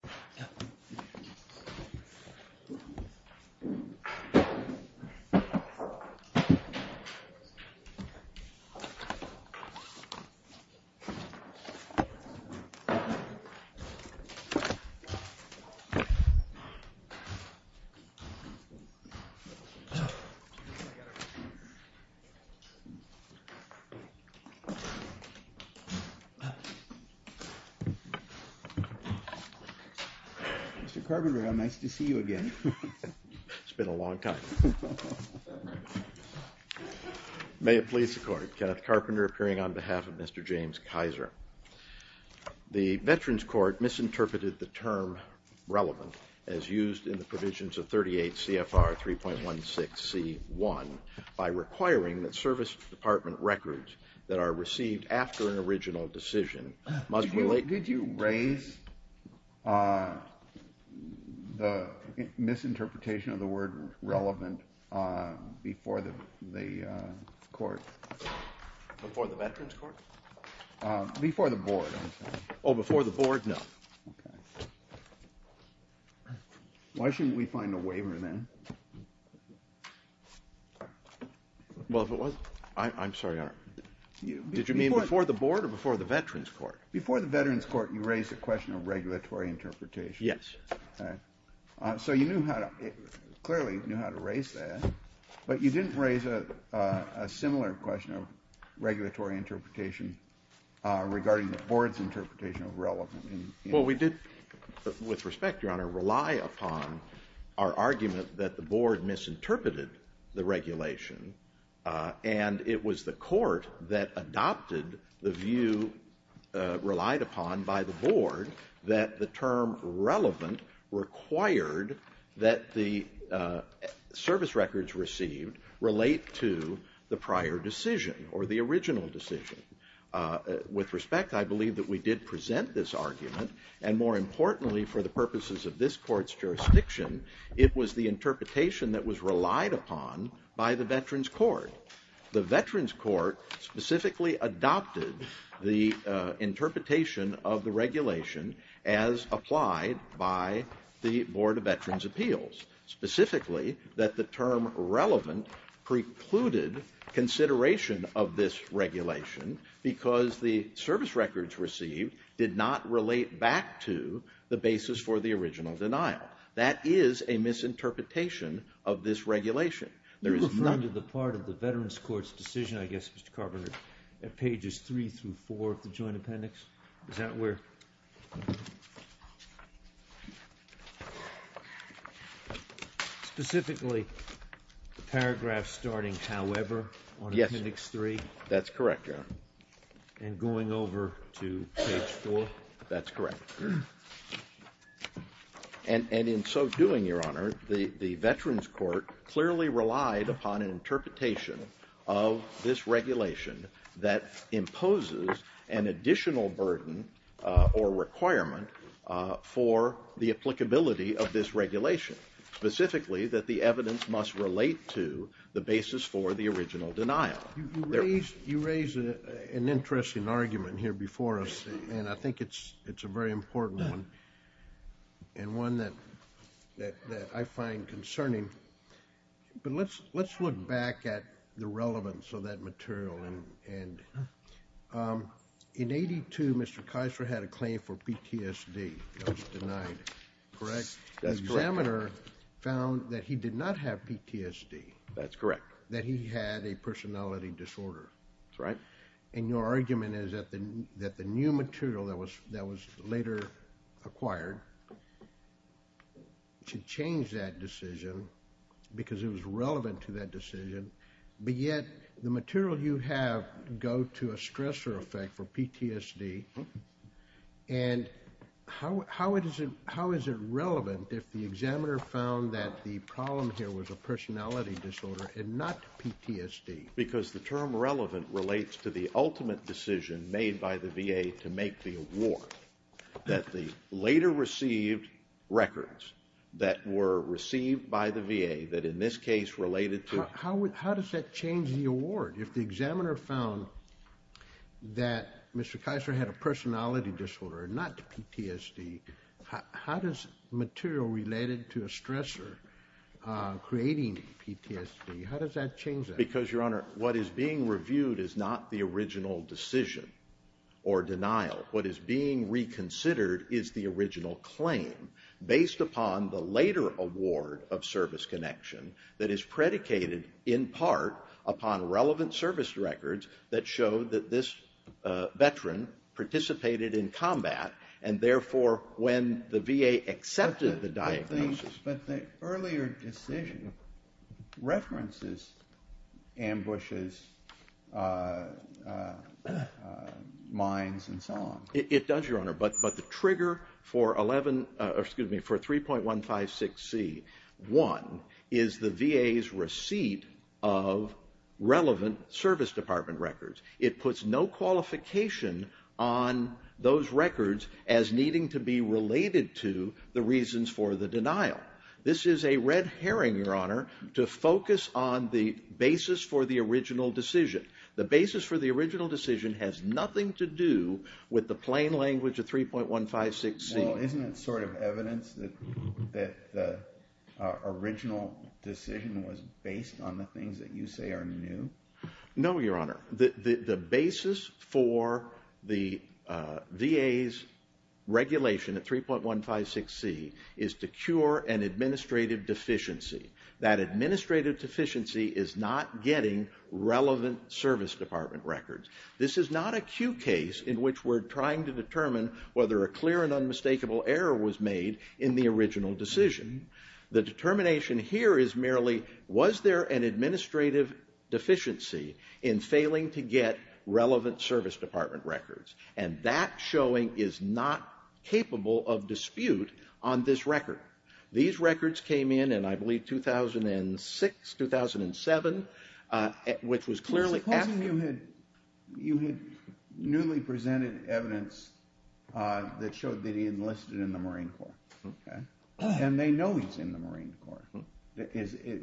Shulkin v. Shulkin Mr. Carpenter, how nice to see you again. It's been a long time. May it please the court, Kenneth Carpenter appearing on behalf of Mr. James Kisor. The Veterans Court misinterpreted the term relevant as used in the provisions of 38 CFR 3.16 c 1 by requiring that service department records that are received after an original decision Did you raise the misinterpretation of the word relevant before the court? Before the Veterans Court? Before the board, I'm sorry. Oh, before the board, no. Why shouldn't we find a waiver then? Well, if it was, I'm sorry. Did you mean before the board or before the Veterans Court? Before the Veterans Court, you raised a question of regulatory interpretation. Yes. So you knew how to, clearly knew how to raise that. But you didn't raise a similar question of regulatory interpretation regarding the board's interpretation of relevant. Well, we did with respect, your honor, rely upon our argument that the board misinterpreted the regulation and it was the court that adopted the view relied upon by the board that the term relevant required that the service records received relate to the prior decision or the original decision. With respect, I believe that we did present this argument and more importantly, for the by the Veterans Court. The Veterans Court specifically adopted the interpretation of the regulation as applied by the Board of Veterans Appeals. Specifically, that the term relevant precluded consideration of this regulation because the service records received did not relate back to the basis for the original denial. That is a misinterpretation of this regulation. You referred to the part of the Veterans Court's decision, I guess, Mr. Carpenter, at pages three through four of the joint appendix. Is that where? Specifically, the paragraph starting, however, on appendix three. That's correct, your honor. And going over to page four. That's correct. And in so doing, your honor, the Veterans Court clearly relied upon an interpretation of this regulation that imposes an additional burden or requirement for the applicability of this regulation. Specifically, that the evidence must relate to the basis for the original denial. You raise an interesting argument here before us, and I think it's a very important one, and one that I find concerning. But let's look back at the relevance of that material. In 82, Mr. Kiser had a claim for PTSD. That was denied, correct? The examiner found that he did not have PTSD. That's correct. That he had a personality disorder. That's right. And your argument is that the new material that was later acquired should change that decision because it was relevant to that decision. But yet, the material you have go to a stressor effect for PTSD. And how is it relevant if the examiner found that the problem here was a personality disorder and not PTSD? Because the term relevant relates to the ultimate decision made by the VA to make the award that the later received records that were received by the VA that in this case related to... How does that change the award? If the examiner found that Mr. Kiser had a personality disorder, not PTSD, how does material related to a stressor creating PTSD, how does that change that? Because, Your Honor, what is being reviewed is not the original decision or denial. What is being reconsidered is the original claim based upon the later award of service connection that is predicated in part upon relevant service records that show that this But the earlier decision references ambushes, mines, and so on. It does, Your Honor. But the trigger for 3.156c.1 is the VA's receipt of relevant service department records. It puts no qualification on those records as needing to be related to the reasons for the denial. This is a red herring, Your Honor, to focus on the basis for the original decision. The basis for the original decision has nothing to do with the plain language of 3.156c. Well, isn't it sort of evidence that the original decision was based on the things that you say are new? No, Your Honor. The basis for the VA's regulation at 3.156c.1 is to cure an administrative deficiency. That administrative deficiency is not getting relevant service department records. This is not a Q case in which we're trying to determine whether a clear and unmistakable error was made in the original decision. The determination here is merely, was there an administrative deficiency in failing to get relevant service department records? And that showing is not capable of dispute on this record. These records came in in, I believe, 2006, 2007, which was clearly after- Supposing you had newly presented evidence that showed that he enlisted in the Marine Corps. Okay. And they know he's in the Marine Corps.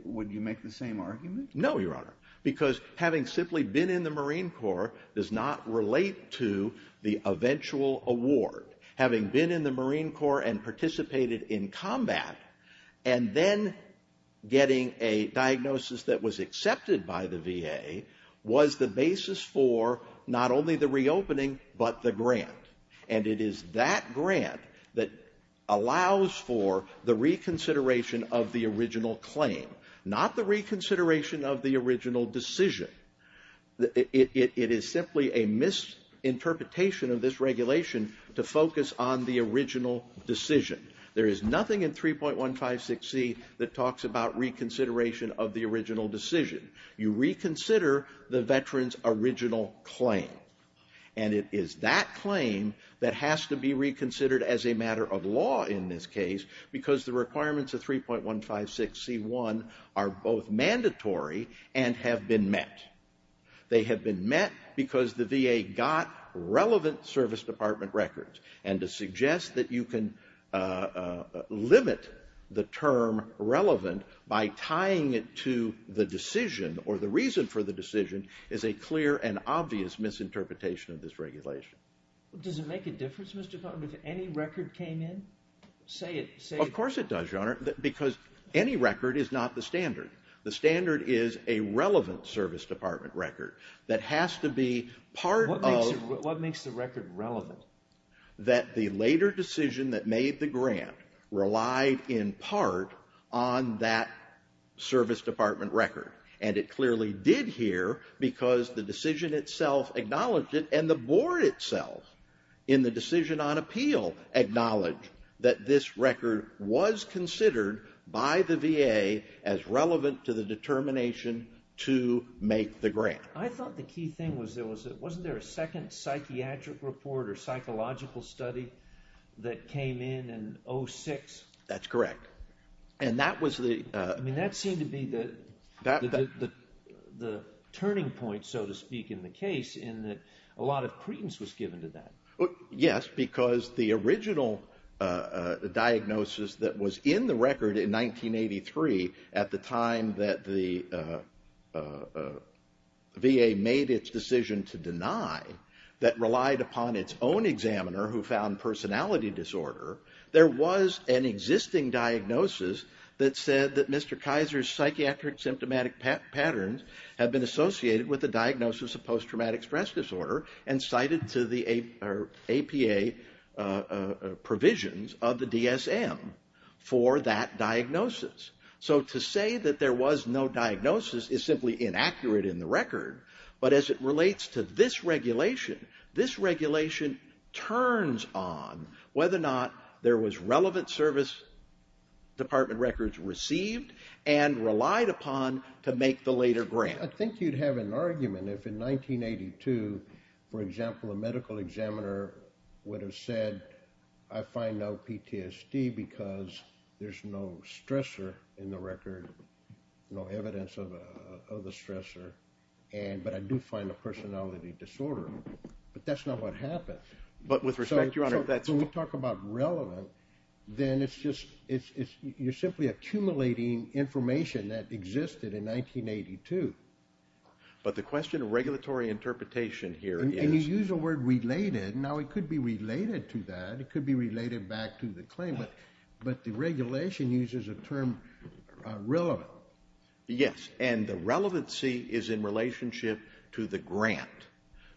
Would you make the same argument? No, Your Honor, because having simply been in the Marine Corps does not relate to the eventual award. Having been in the Marine Corps and participated in combat and then getting a diagnosis that was accepted by the VA was the basis for not only the reopening, but the grant. And it is that grant that allows for the reconsideration of the original claim, not the reconsideration of the original decision. It is simply a misinterpretation of this regulation to focus on the original decision. There is nothing in 3.156c that talks about reconsideration of the original decision. You reconsider the veteran's original claim. And it is that claim that has to be reconsidered as a matter of law in this case, because the requirements of 3.156c1 are both mandatory and have been met. They have been met because the VA got relevant service department records. And to suggest that you can limit the term relevant by tying it to the decision or the misinterpretation of this regulation. Does it make a difference if any record came in? Of course it does, Your Honor, because any record is not the standard. The standard is a relevant service department record that has to be part of... What makes the record relevant? That the later decision that made the grant relied in part on that service department record. And it clearly did here because the decision itself acknowledged it and the board itself in the decision on appeal acknowledged that this record was considered by the VA as relevant to the determination to make the grant. I thought the key thing was, wasn't there a second psychiatric report or psychological study that came in in 06? That's correct. And that was the... I mean, that seemed to be the turning point, so to speak, in the case in that a lot of credence was given to that. Yes, because the original diagnosis that was in the record in 1983, at the time that the VA made its decision to deny, that relied upon its own examiner who found personality disorder, there was an existing diagnosis that said that Mr. Kaiser's psychiatric symptomatic patterns had been associated with the diagnosis of post-traumatic stress disorder and cited to the APA provisions of the DSM for that diagnosis. So to say that there was no diagnosis is simply inaccurate in the record, but as it relates to this regulation, this regulation turns on whether or not there was relevant service department records received and relied upon to make the later grant. I think you'd have an argument if in 1982, for example, a medical examiner would have said, I find no PTSD because there's no stressor in the record, no evidence of a stressor, but I do find a personality disorder, but that's not what happens. But with respect, Your Honor, that's... When we talk about relevant, then it's just, you're simply accumulating information that existed in 1982. But the question of regulatory interpretation here is... And you use the word related, now it could be related to that, it could be related back to the claim, but the regulation uses a term relevant. Yes, and the relevancy is in relationship to the grant,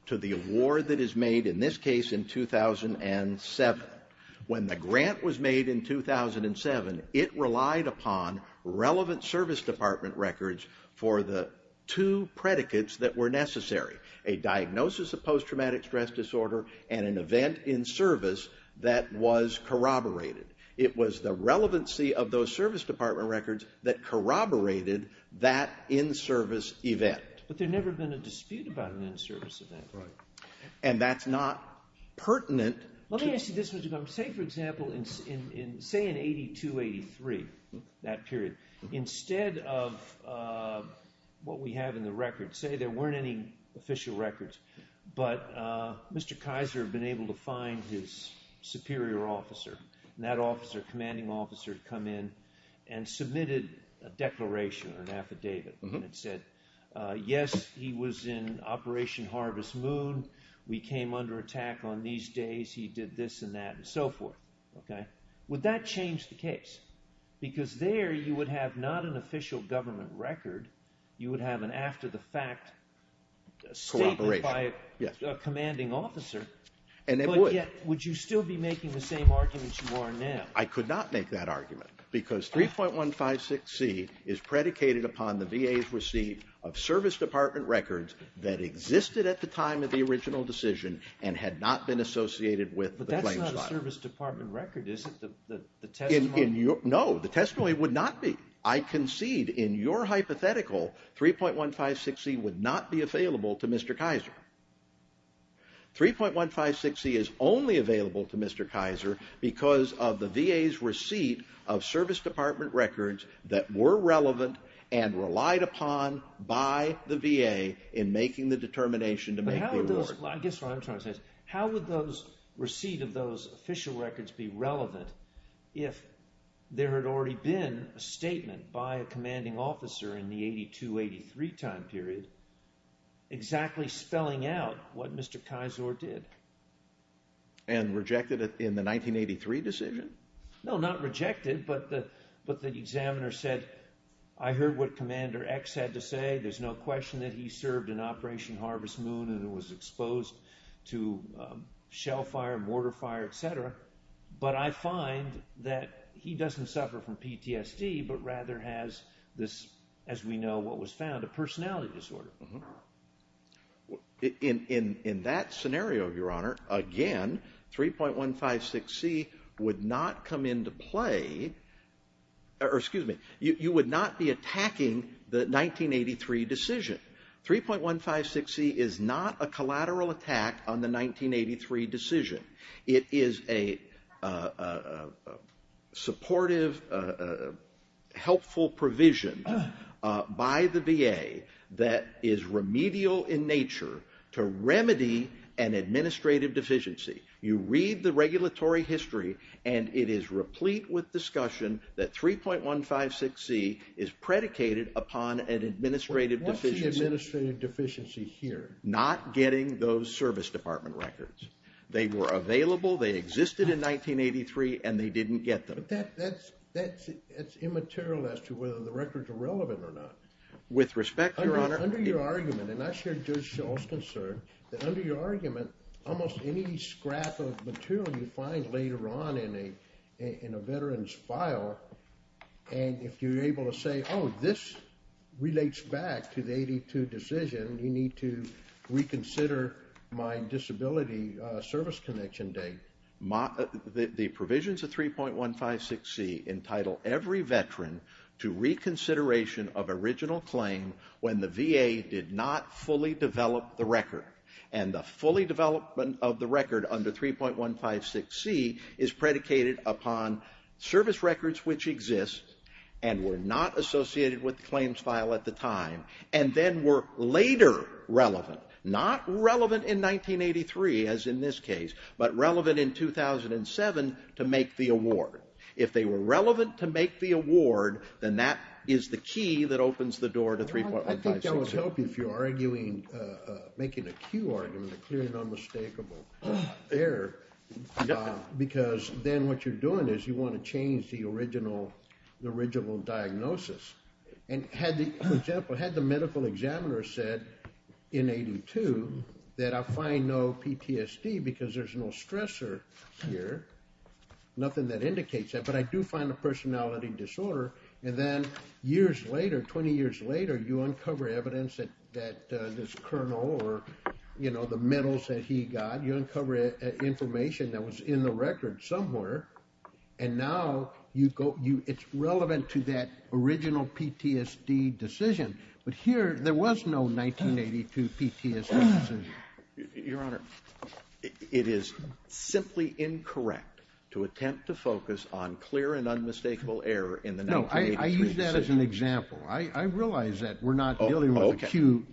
to the award that is made in this case in 2007. When the grant was made in 2007, it relied upon relevant service department records for the two predicates that were necessary, a diagnosis of post-traumatic stress disorder and an event in service that was corroborated. It was the relevancy of those service department records that corroborated that in-service event. But there never been a dispute about an in-service event. Right. And that's not pertinent to... Let me ask you this, Mr. Cumber. Say, for example, say in 82, 83, that period, instead of what we have in the record, say there weren't any official records, but Mr. Kaiser had been able to find his superior officer, and that officer, commanding officer, had come in and submitted a declaration or an affidavit that said, yes, he was in Operation Harvest Moon, we came under attack on these days, he did this and that and so forth. Okay? Would that change the case? Because there you would have not an official government record, you would have an after the fact statement by a commanding officer. And it would. Would you still be making the same argument you are now? I could not make that argument. Because 3.156c is predicated upon the VA's receipt of service department records that existed at the time of the original decision and had not been associated with the claims file. But that's not a service department record, is it? No, the testimony would not be. I concede, in your hypothetical, 3.156c would not be available to Mr. Kaiser. 3.156c is only available to Mr. Kaiser because of the VA's receipt of service department records that were relevant and relied upon by the VA in making the determination to make the award. I guess what I'm trying to say is, how would those receipt of those official records be relevant if there had already been a statement by a commanding officer in the 82-83 time period exactly spelling out what Mr. Kaiser did? And rejected it in the 1983 decision? No, not rejected, but the examiner said, I heard what Commander X had to say. There's no question that he served in Operation Harvest Moon and was exposed to shell fire, mortar fire, etc. But I find that he doesn't suffer from PTSD, but rather has this, as we know what was found, a personality disorder. In that scenario, Your Honor, again, 3.156c would not come into play, or excuse me, you would not be attacking the 1983 decision. 3.156c is not a collateral attack on the 1983 decision. It is a supportive, helpful provision by the VA that is remedial in nature to remedy an administrative deficiency. You read the regulatory history, and it is replete with discussion that 3.156c is predicated upon an administrative deficiency. What's the administrative deficiency here? Not getting those service department records. They were available, they existed in 1983, and they didn't get them. But that's immaterial as to whether the records are relevant or not. With respect, Your Honor. Under your argument, and I share Judge Shull's concern, that under your argument, almost any scrap of material you find later on in a veteran's file, and if you're able to say, this relates back to the 82 decision, you need to reconsider my disability service connection date. The provisions of 3.156c entitle every veteran to reconsideration of original claim when the VA did not fully develop the record. And the fully development of the record under 3.156c is predicated upon service records which exist and were not associated with the claims file at the time, and then were later relevant. Not relevant in 1983, as in this case, but relevant in 2007 to make the award. If they were relevant to make the award, then that is the key that opens the door to 3.156c. I think that would help if you're arguing, making a cue argument, a clear and unmistakable error, because then what you're doing is you want to change the original diagnosis. And had the medical examiner said in 82 that I find no PTSD because there's no stressor here, nothing that indicates that, but I do find a personality disorder. And then years later, 20 years later, you uncover evidence that this colonel or the medals that he got, you uncover information that was in the record somewhere, and now it's relevant to that original PTSD decision. But here, there was no 1982 PTSD decision. Your Honor, it is simply incorrect to attempt to focus on clear and unmistakable error in the 1983 decision. No, I use that as an example. I realize that we're not dealing with acute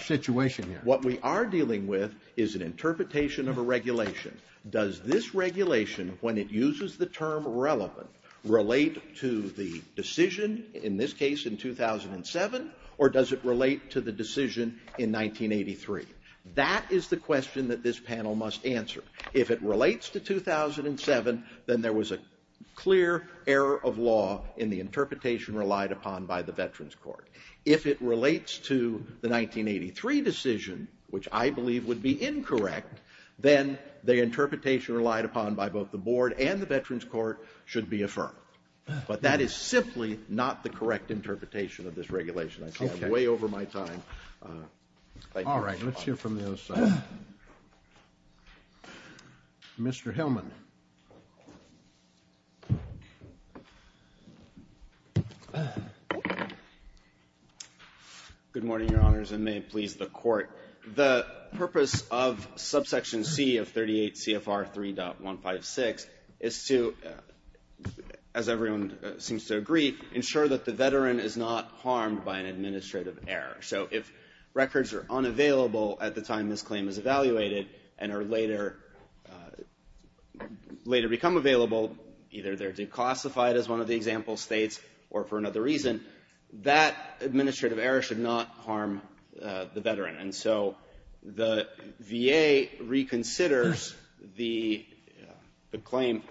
situation here. What we are dealing with is an interpretation of a regulation. Does this regulation, when it uses the term relevant, relate to the decision in this case in 2007, or does it relate to the decision in 1983? That is the question that this panel must answer. If it relates to 2007, then there was a clear error of law in the interpretation relied upon by the Veterans Court. If it relates to the 1983 decision, which I believe would be incorrect, then the interpretation relied upon by both the Board and the Veterans Court should be affirmed. But that is simply not the correct interpretation of this regulation. I think I'm way over my time. Thank you, Your Honor. All right. Let's hear from the other side. Mr. Hillman. Good morning, Your Honors, and may it please the Court. The purpose of subsection C of 38 CFR 3.156 is to, as everyone seems to agree, ensure that the veteran is not harmed by an administrative error. So if records are unavailable at the time this claim is evaluated and are later become available, either they're declassified as one of the example states or for another reason, that administrative error should not harm the veteran. And so the VA reconsiders the claim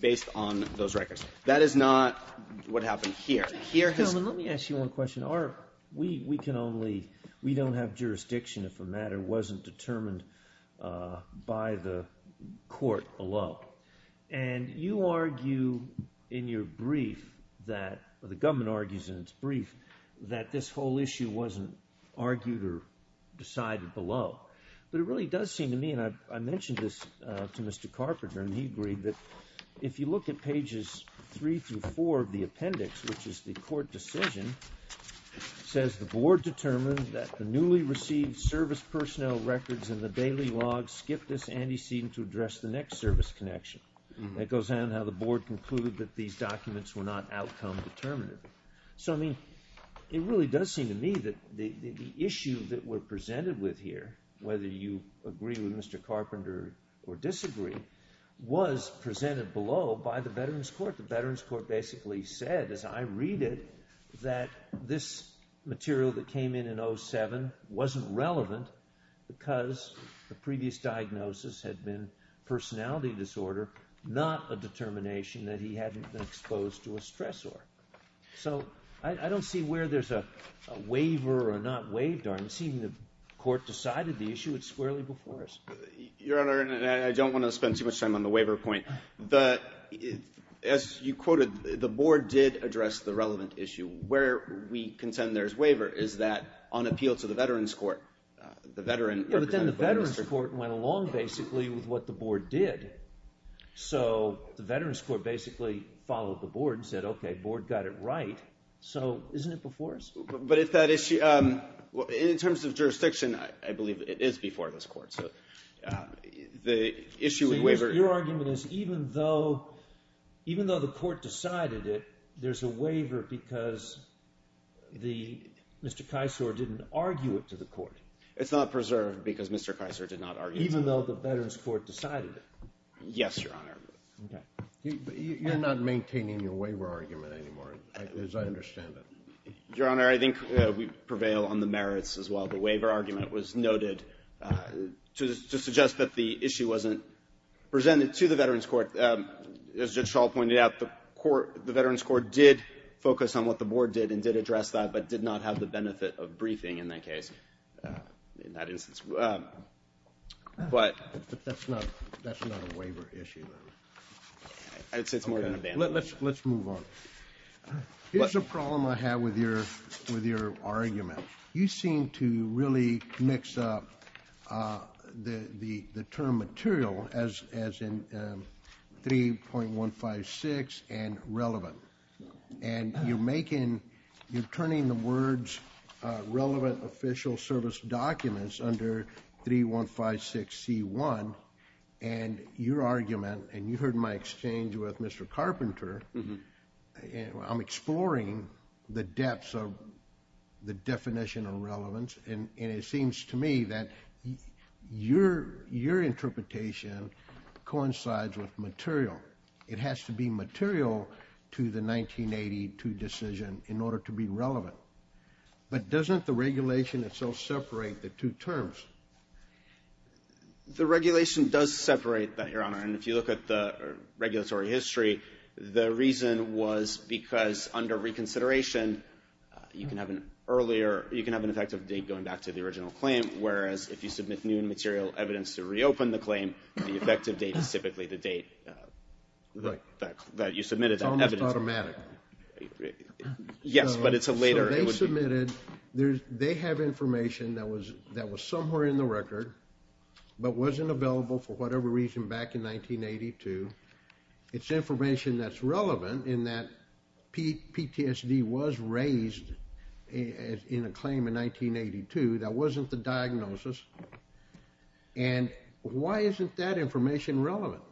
based on those records. That is not what happened here. Mr. Hillman, let me ask you one question. We don't have jurisdiction if a matter wasn't determined by the court alone. And you argue in your brief that, or the government argues in its brief, that this whole issue wasn't argued or decided below. But it really does seem to me, and I mentioned this to Mr. Carpenter, and he agreed that if you look at pages three through four of the appendix, which is the court decision, says the board determined that the newly received service personnel records in the daily log skipped this antecedent to address the next service connection. It goes on how the board concluded that these documents were not outcome determinative. So I mean, it really does seem to me that the issue that we're presented with here, whether you agree with Mr. Carpenter or disagree, was presented below by the Veterans Court. The Veterans Court basically said, as I read it, that this material that came in in 07 wasn't relevant because the previous diagnosis had been personality disorder, not a determination that he hadn't been exposed to a stressor. So I don't see where there's a waiver or not waived. I'm seeing the court decided the issue. It's squarely before us. Your Honor, and I don't want to spend too much time on the waiver point. As you quoted, the board did address the relevant issue. Where we contend there's waiver is that on appeal to the Veterans Court. The Veterans Court went along, basically, with what the board did. So the Veterans Court basically followed the board and said, OK, board got it right. So isn't it before us? But if that issue, in terms of jurisdiction, I believe it is before this court. So the issue with waiver. Your argument is even though the court decided it, there's a waiver because Mr. Kisor didn't argue it to the court. It's not preserved because Mr. Kisor did not argue it. Even though the Veterans Court decided it. Yes, Your Honor. You're not maintaining your waiver argument anymore, as I understand it. Your Honor, I think we prevail on the merits as well. The waiver argument was noted to suggest that the issue wasn't presented to the Veterans Court. As Judge Schall pointed out, the Veterans Court did focus on what the board did and did address that, but did not have the benefit of briefing in that case. In that instance. But that's not a waiver issue. Let's move on. Here's a problem I have with your argument. You seem to really mix up the term material as in 3.156 and relevant. And you're making, you're turning the words relevant official service documents under 3156C1. And your argument, and you heard my exchange with Mr. Carpenter. And I'm exploring the depths of the definition of relevance. And it seems to me that your interpretation coincides with material. It has to be material to the 1982 decision in order to be relevant. But doesn't the regulation itself separate the two terms? The regulation does separate that, Your Honor. And if you look at the regulatory history, the reason was because under reconsideration, you can have an earlier, you can have an effective date going back to the original claim. Whereas if you submit new material evidence to reopen the claim, the effective date is typically the date that you submitted that evidence. It's almost automatic. Yes, but it's a later. But wasn't available for whatever reason back in 1982. It's information that's relevant in that PTSD was raised in a claim in 1982. That wasn't the diagnosis. And why isn't that information relevant?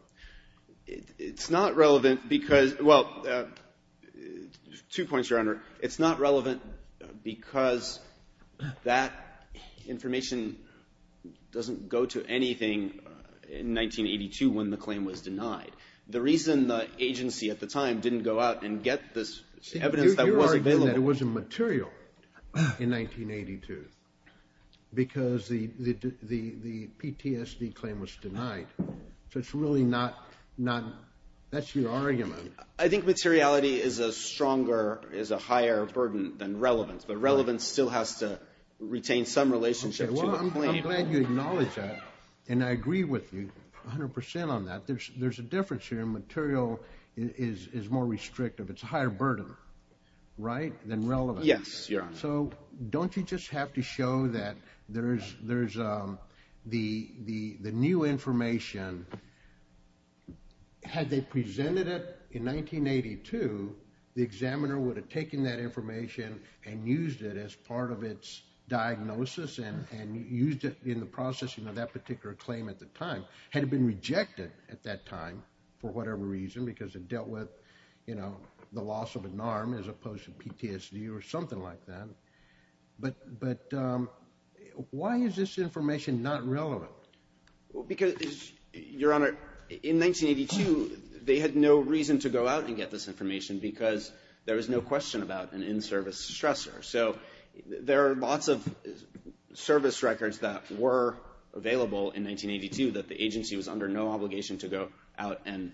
It's not relevant because, well, two points, Your Honor. It's not relevant because that information doesn't go to anything in 1982 when the claim was denied. The reason the agency at the time didn't go out and get this evidence that wasn't available. It wasn't material in 1982 because the PTSD claim was denied. So it's really not, that's your argument. I think materiality is a stronger, is a higher burden than relevance, but relevance still has to retain some relationship to the claim. I'm glad you acknowledge that. And I agree with you 100% on that. There's a difference here. Material is more restrictive. It's a higher burden, right, than relevance. Yes, Your Honor. So don't you just have to show that there's the new information. And had they presented it in 1982, the examiner would have taken that information and used it as part of its diagnosis and used it in the processing of that particular claim at the time, had it been rejected at that time for whatever reason, because it dealt with, you know, the loss of an arm as opposed to PTSD or something like that. But why is this information not relevant? Because, Your Honor, in 1982, they had no reason to go out and get this information because there was no question about an in-service stressor. So there are lots of service records that were available in 1982 that the agency was under no obligation to go out and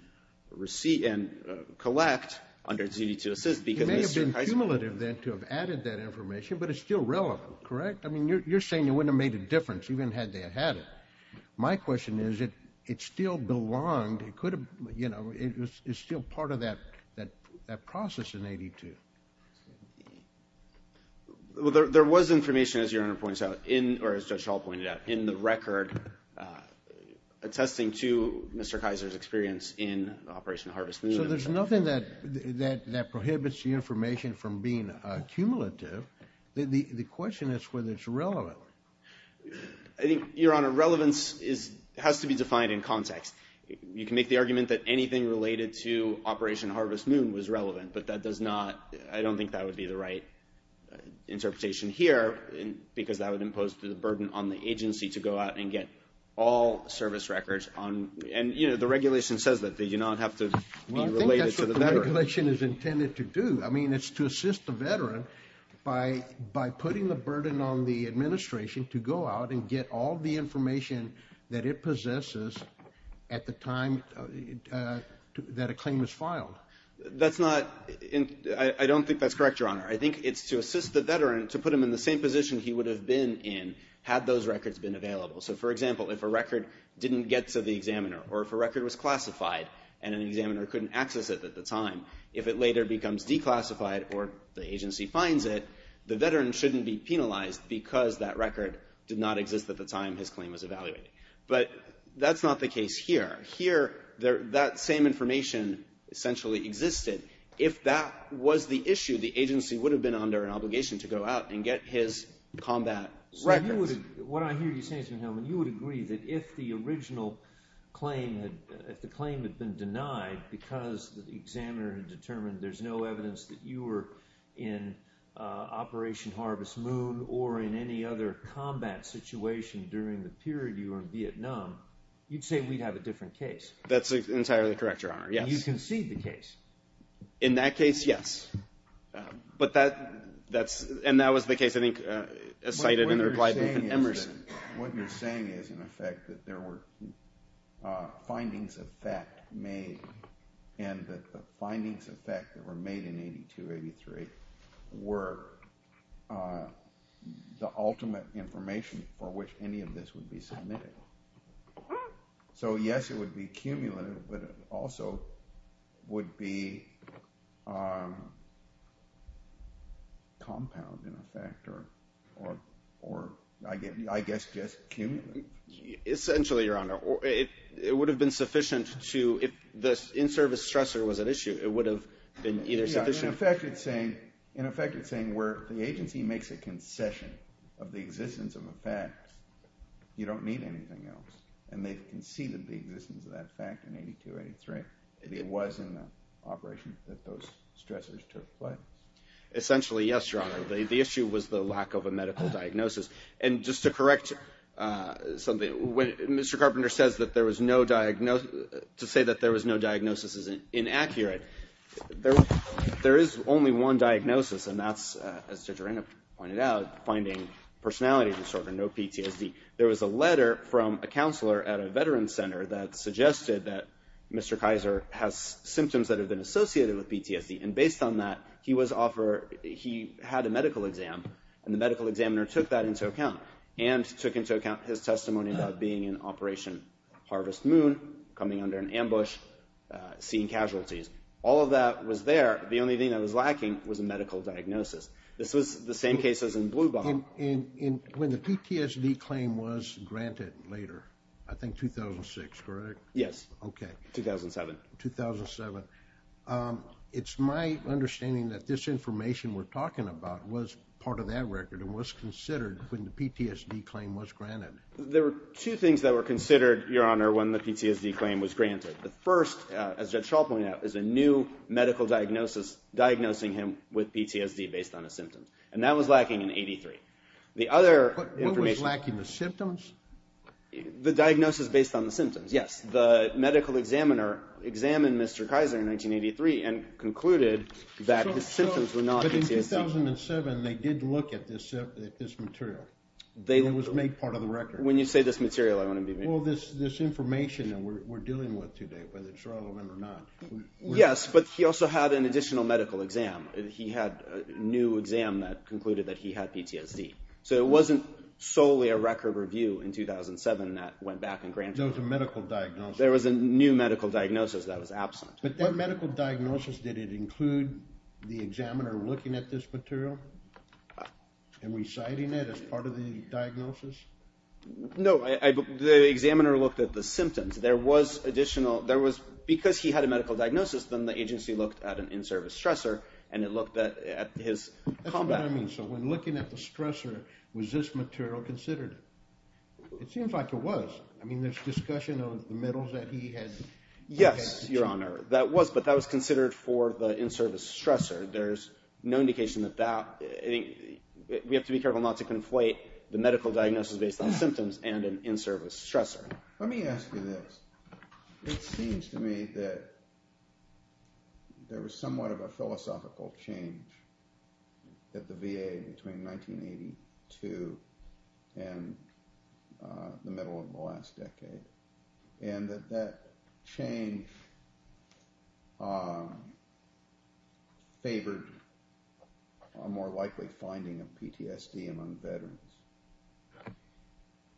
receive and collect under duty to assist. It may have been cumulative then to have added that information, but it's still relevant, correct? I mean, you're saying it wouldn't have made a difference even had they had it. My question is, it still belonged. It could have, you know, it's still part of that process in 1982. Well, there was information, as Your Honor points out, or as Judge Schall pointed out, in the record attesting to Mr. Kaiser's experience in Operation Harvest Moon. So there's nothing that prohibits the information from being cumulative. The question is whether it's relevant. Well, I think, Your Honor, relevance has to be defined in context. You can make the argument that anything related to Operation Harvest Moon was relevant, but that does not, I don't think that would be the right interpretation here because that would impose the burden on the agency to go out and get all service records on. And, you know, the regulation says that they do not have to be related to the veteran. Well, I think that's what the regulation is intended to do. I mean, it's to assist the veteran by putting the burden on the administration to go out and get all the information that it possesses at the time that a claim is filed. That's not, I don't think that's correct, Your Honor. I think it's to assist the veteran to put him in the same position he would have been in had those records been available. So, for example, if a record didn't get to the examiner or if a record was classified and an examiner couldn't access it at the time, if it later becomes declassified or the agency finds it, the veteran shouldn't be penalized because that record did not exist at the time his claim was evaluated. But that's not the case here. Here, that same information essentially existed. If that was the issue, the agency would have been under an obligation to go out and get his combat records. What I hear you saying, Mr. Hellman, you would agree that if the original claim had been denied because the examiner had determined there's no evidence that you were in Operation Harvest Moon or in any other combat situation during the period you were in Vietnam, you'd say we'd have a different case. That's entirely correct, Your Honor, yes. You concede the case. In that case, yes. But that's, and that was the case, I think, cited in the reply to Emerson. What you're saying is, in effect, that there were findings of fact made and that the findings of fact that were made in 82-83 were the ultimate information for which any of this would be submitted. So, yes, it would be cumulative, but it also would be compound, in effect, or, I guess, just cumulative. Essentially, Your Honor, it would have been sufficient to, if the in-service stressor was at issue, it would have been either sufficient... In effect, you're saying where the agency makes a concession of the existence of a fact, you don't need anything else, and they've conceded the existence of that fact in 82-83. It was in the operation that those stressors took place. Essentially, yes, Your Honor. The issue was the lack of a medical diagnosis. And just to correct something, when Mr. Carpenter says that there was no diagnosis, to say that there was no diagnosis is inaccurate. There is only one diagnosis, and that's, as Judge Arena pointed out, finding personality disorder, no PTSD. There was a letter from a counselor at a veteran's center that suggested that Mr. Kaiser has symptoms that have been associated with PTSD. And based on that, he had a medical exam, and the medical examiner took that into account, and took into account his testimony about being in Operation Harvest Moon, coming under an ambush, seeing casualties. All of that was there. The only thing that was lacking was a medical diagnosis. This was the same case as in Blue Bomb. And when the PTSD claim was granted later, I think 2006, correct? Yes. Okay. 2007. 2007. It's my understanding that this information we're talking about was part of that record, and was considered when the PTSD claim was granted. There were two things that were considered, Your Honor, when the PTSD claim was granted. The first, as Judge Schall pointed out, is a new medical diagnosis, diagnosing him with PTSD based on his symptoms. And that was lacking in 83. The other information... What was lacking? The symptoms? The diagnosis based on the symptoms. Yes. The medical examiner examined Mr. Kaiser in 1983, and concluded that his symptoms were not... But in 2007, they did look at this material. It was made part of the record. When you say this material, I want to be... Well, this information that we're dealing with today, whether it's relevant or not. Yes, but he also had an additional medical exam. He had a new exam that concluded that he had PTSD. So it wasn't solely a record review in 2007 that went back and granted... There was a medical diagnosis. There was a new medical diagnosis that was absent. But that medical diagnosis, did it include the examiner looking at this material? And reciting it as part of the diagnosis? No, the examiner looked at the symptoms. There was additional... There was... Because he had a medical diagnosis, then the agency looked at an in-service stressor, and it looked at his combat... That's what I mean. So when looking at the stressor, was this material considered? It seems like it was. I mean, there's discussion of the medals that he had... Yes, Your Honor. That was, but that was considered for the in-service stressor. There's no indication that that... We have to be careful not to conflate the medical diagnosis based on symptoms and an in-service stressor. Let me ask you this. It seems to me that there was somewhat of a philosophical change at the VA between 1982 and the middle of the last decade, and that that change favored a more likely finding of PTSD among veterans.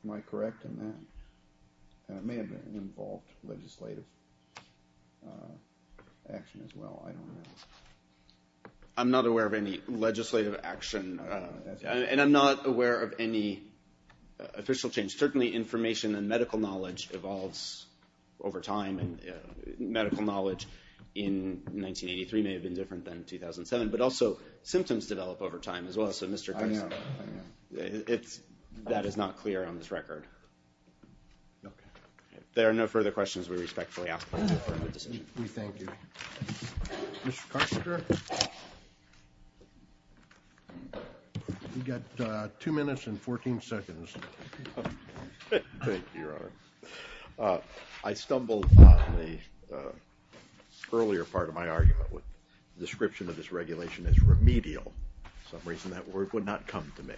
Am I correct in that? And it may have involved legislative action as well. I don't know. I'm not aware of any legislative action, and I'm not aware of any official change. Certainly, information and medical knowledge evolves over time, and medical knowledge in 1983 may have been different than 2007, but also symptoms develop over time as well. Okay. There are no further questions. We respectfully ask for your affirmative decision. We thank you. Mr. Kostner? You got two minutes and 14 seconds. Thank you, Your Honor. I stumbled on the earlier part of my argument with the description of this regulation as remedial. For some reason, that word would not come to me.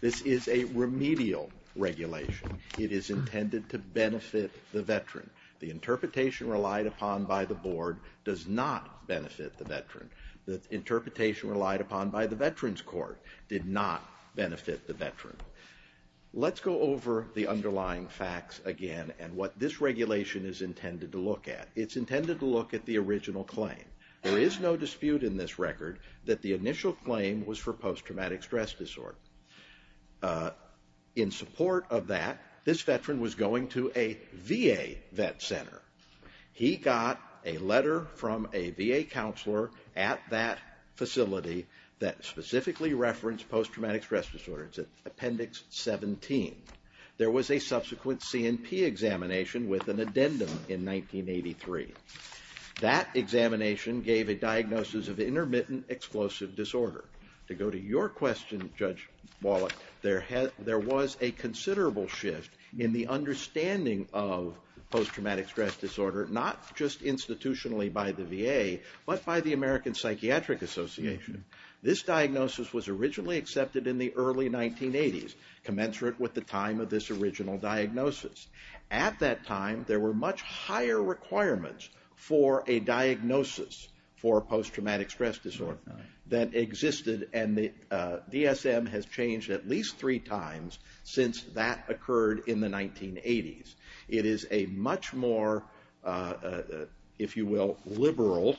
This is a remedial regulation. It is intended to benefit the veteran. The interpretation relied upon by the board does not benefit the veteran. The interpretation relied upon by the Veterans Court did not benefit the veteran. Let's go over the underlying facts again and what this regulation is intended to look at. It's intended to look at the original claim. There is no dispute in this record that the initial claim was for post-traumatic stress disorder. In support of that, this veteran was going to a VA Vet Center. He got a letter from a VA counselor at that facility that specifically referenced post-traumatic stress disorder. It's in Appendix 17. There was a subsequent C&P examination with an addendum in 1983. That examination gave a diagnosis of intermittent explosive disorder. To go to your question, Judge Wallach, there was a considerable shift in the understanding of post-traumatic stress disorder, not just institutionally by the VA, but by the American Psychiatric Association. This diagnosis was originally accepted in the early 1980s, commensurate with the time of this original diagnosis. At that time, there were much higher requirements for a diagnosis for post-traumatic stress that existed, and the DSM has changed at least three times since that occurred in the 1980s. It is a much more, if you will, liberal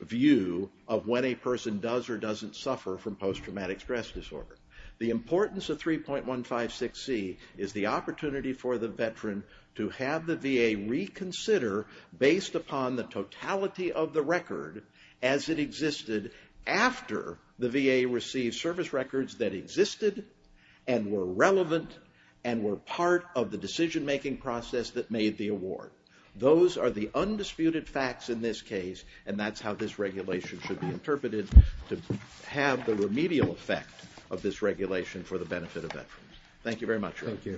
view of when a person does or doesn't suffer from post-traumatic stress disorder. The importance of 3.156c is the opportunity for the veteran to have the VA reconsider, based upon the totality of the record as it existed after the VA received service records that existed, and were relevant, and were part of the decision-making process that made the award. Those are the undisputed facts in this case, and that's how this regulation should be interpreted to have the remedial effect of this regulation for the benefit of veterans. Thank you very much. Thank you.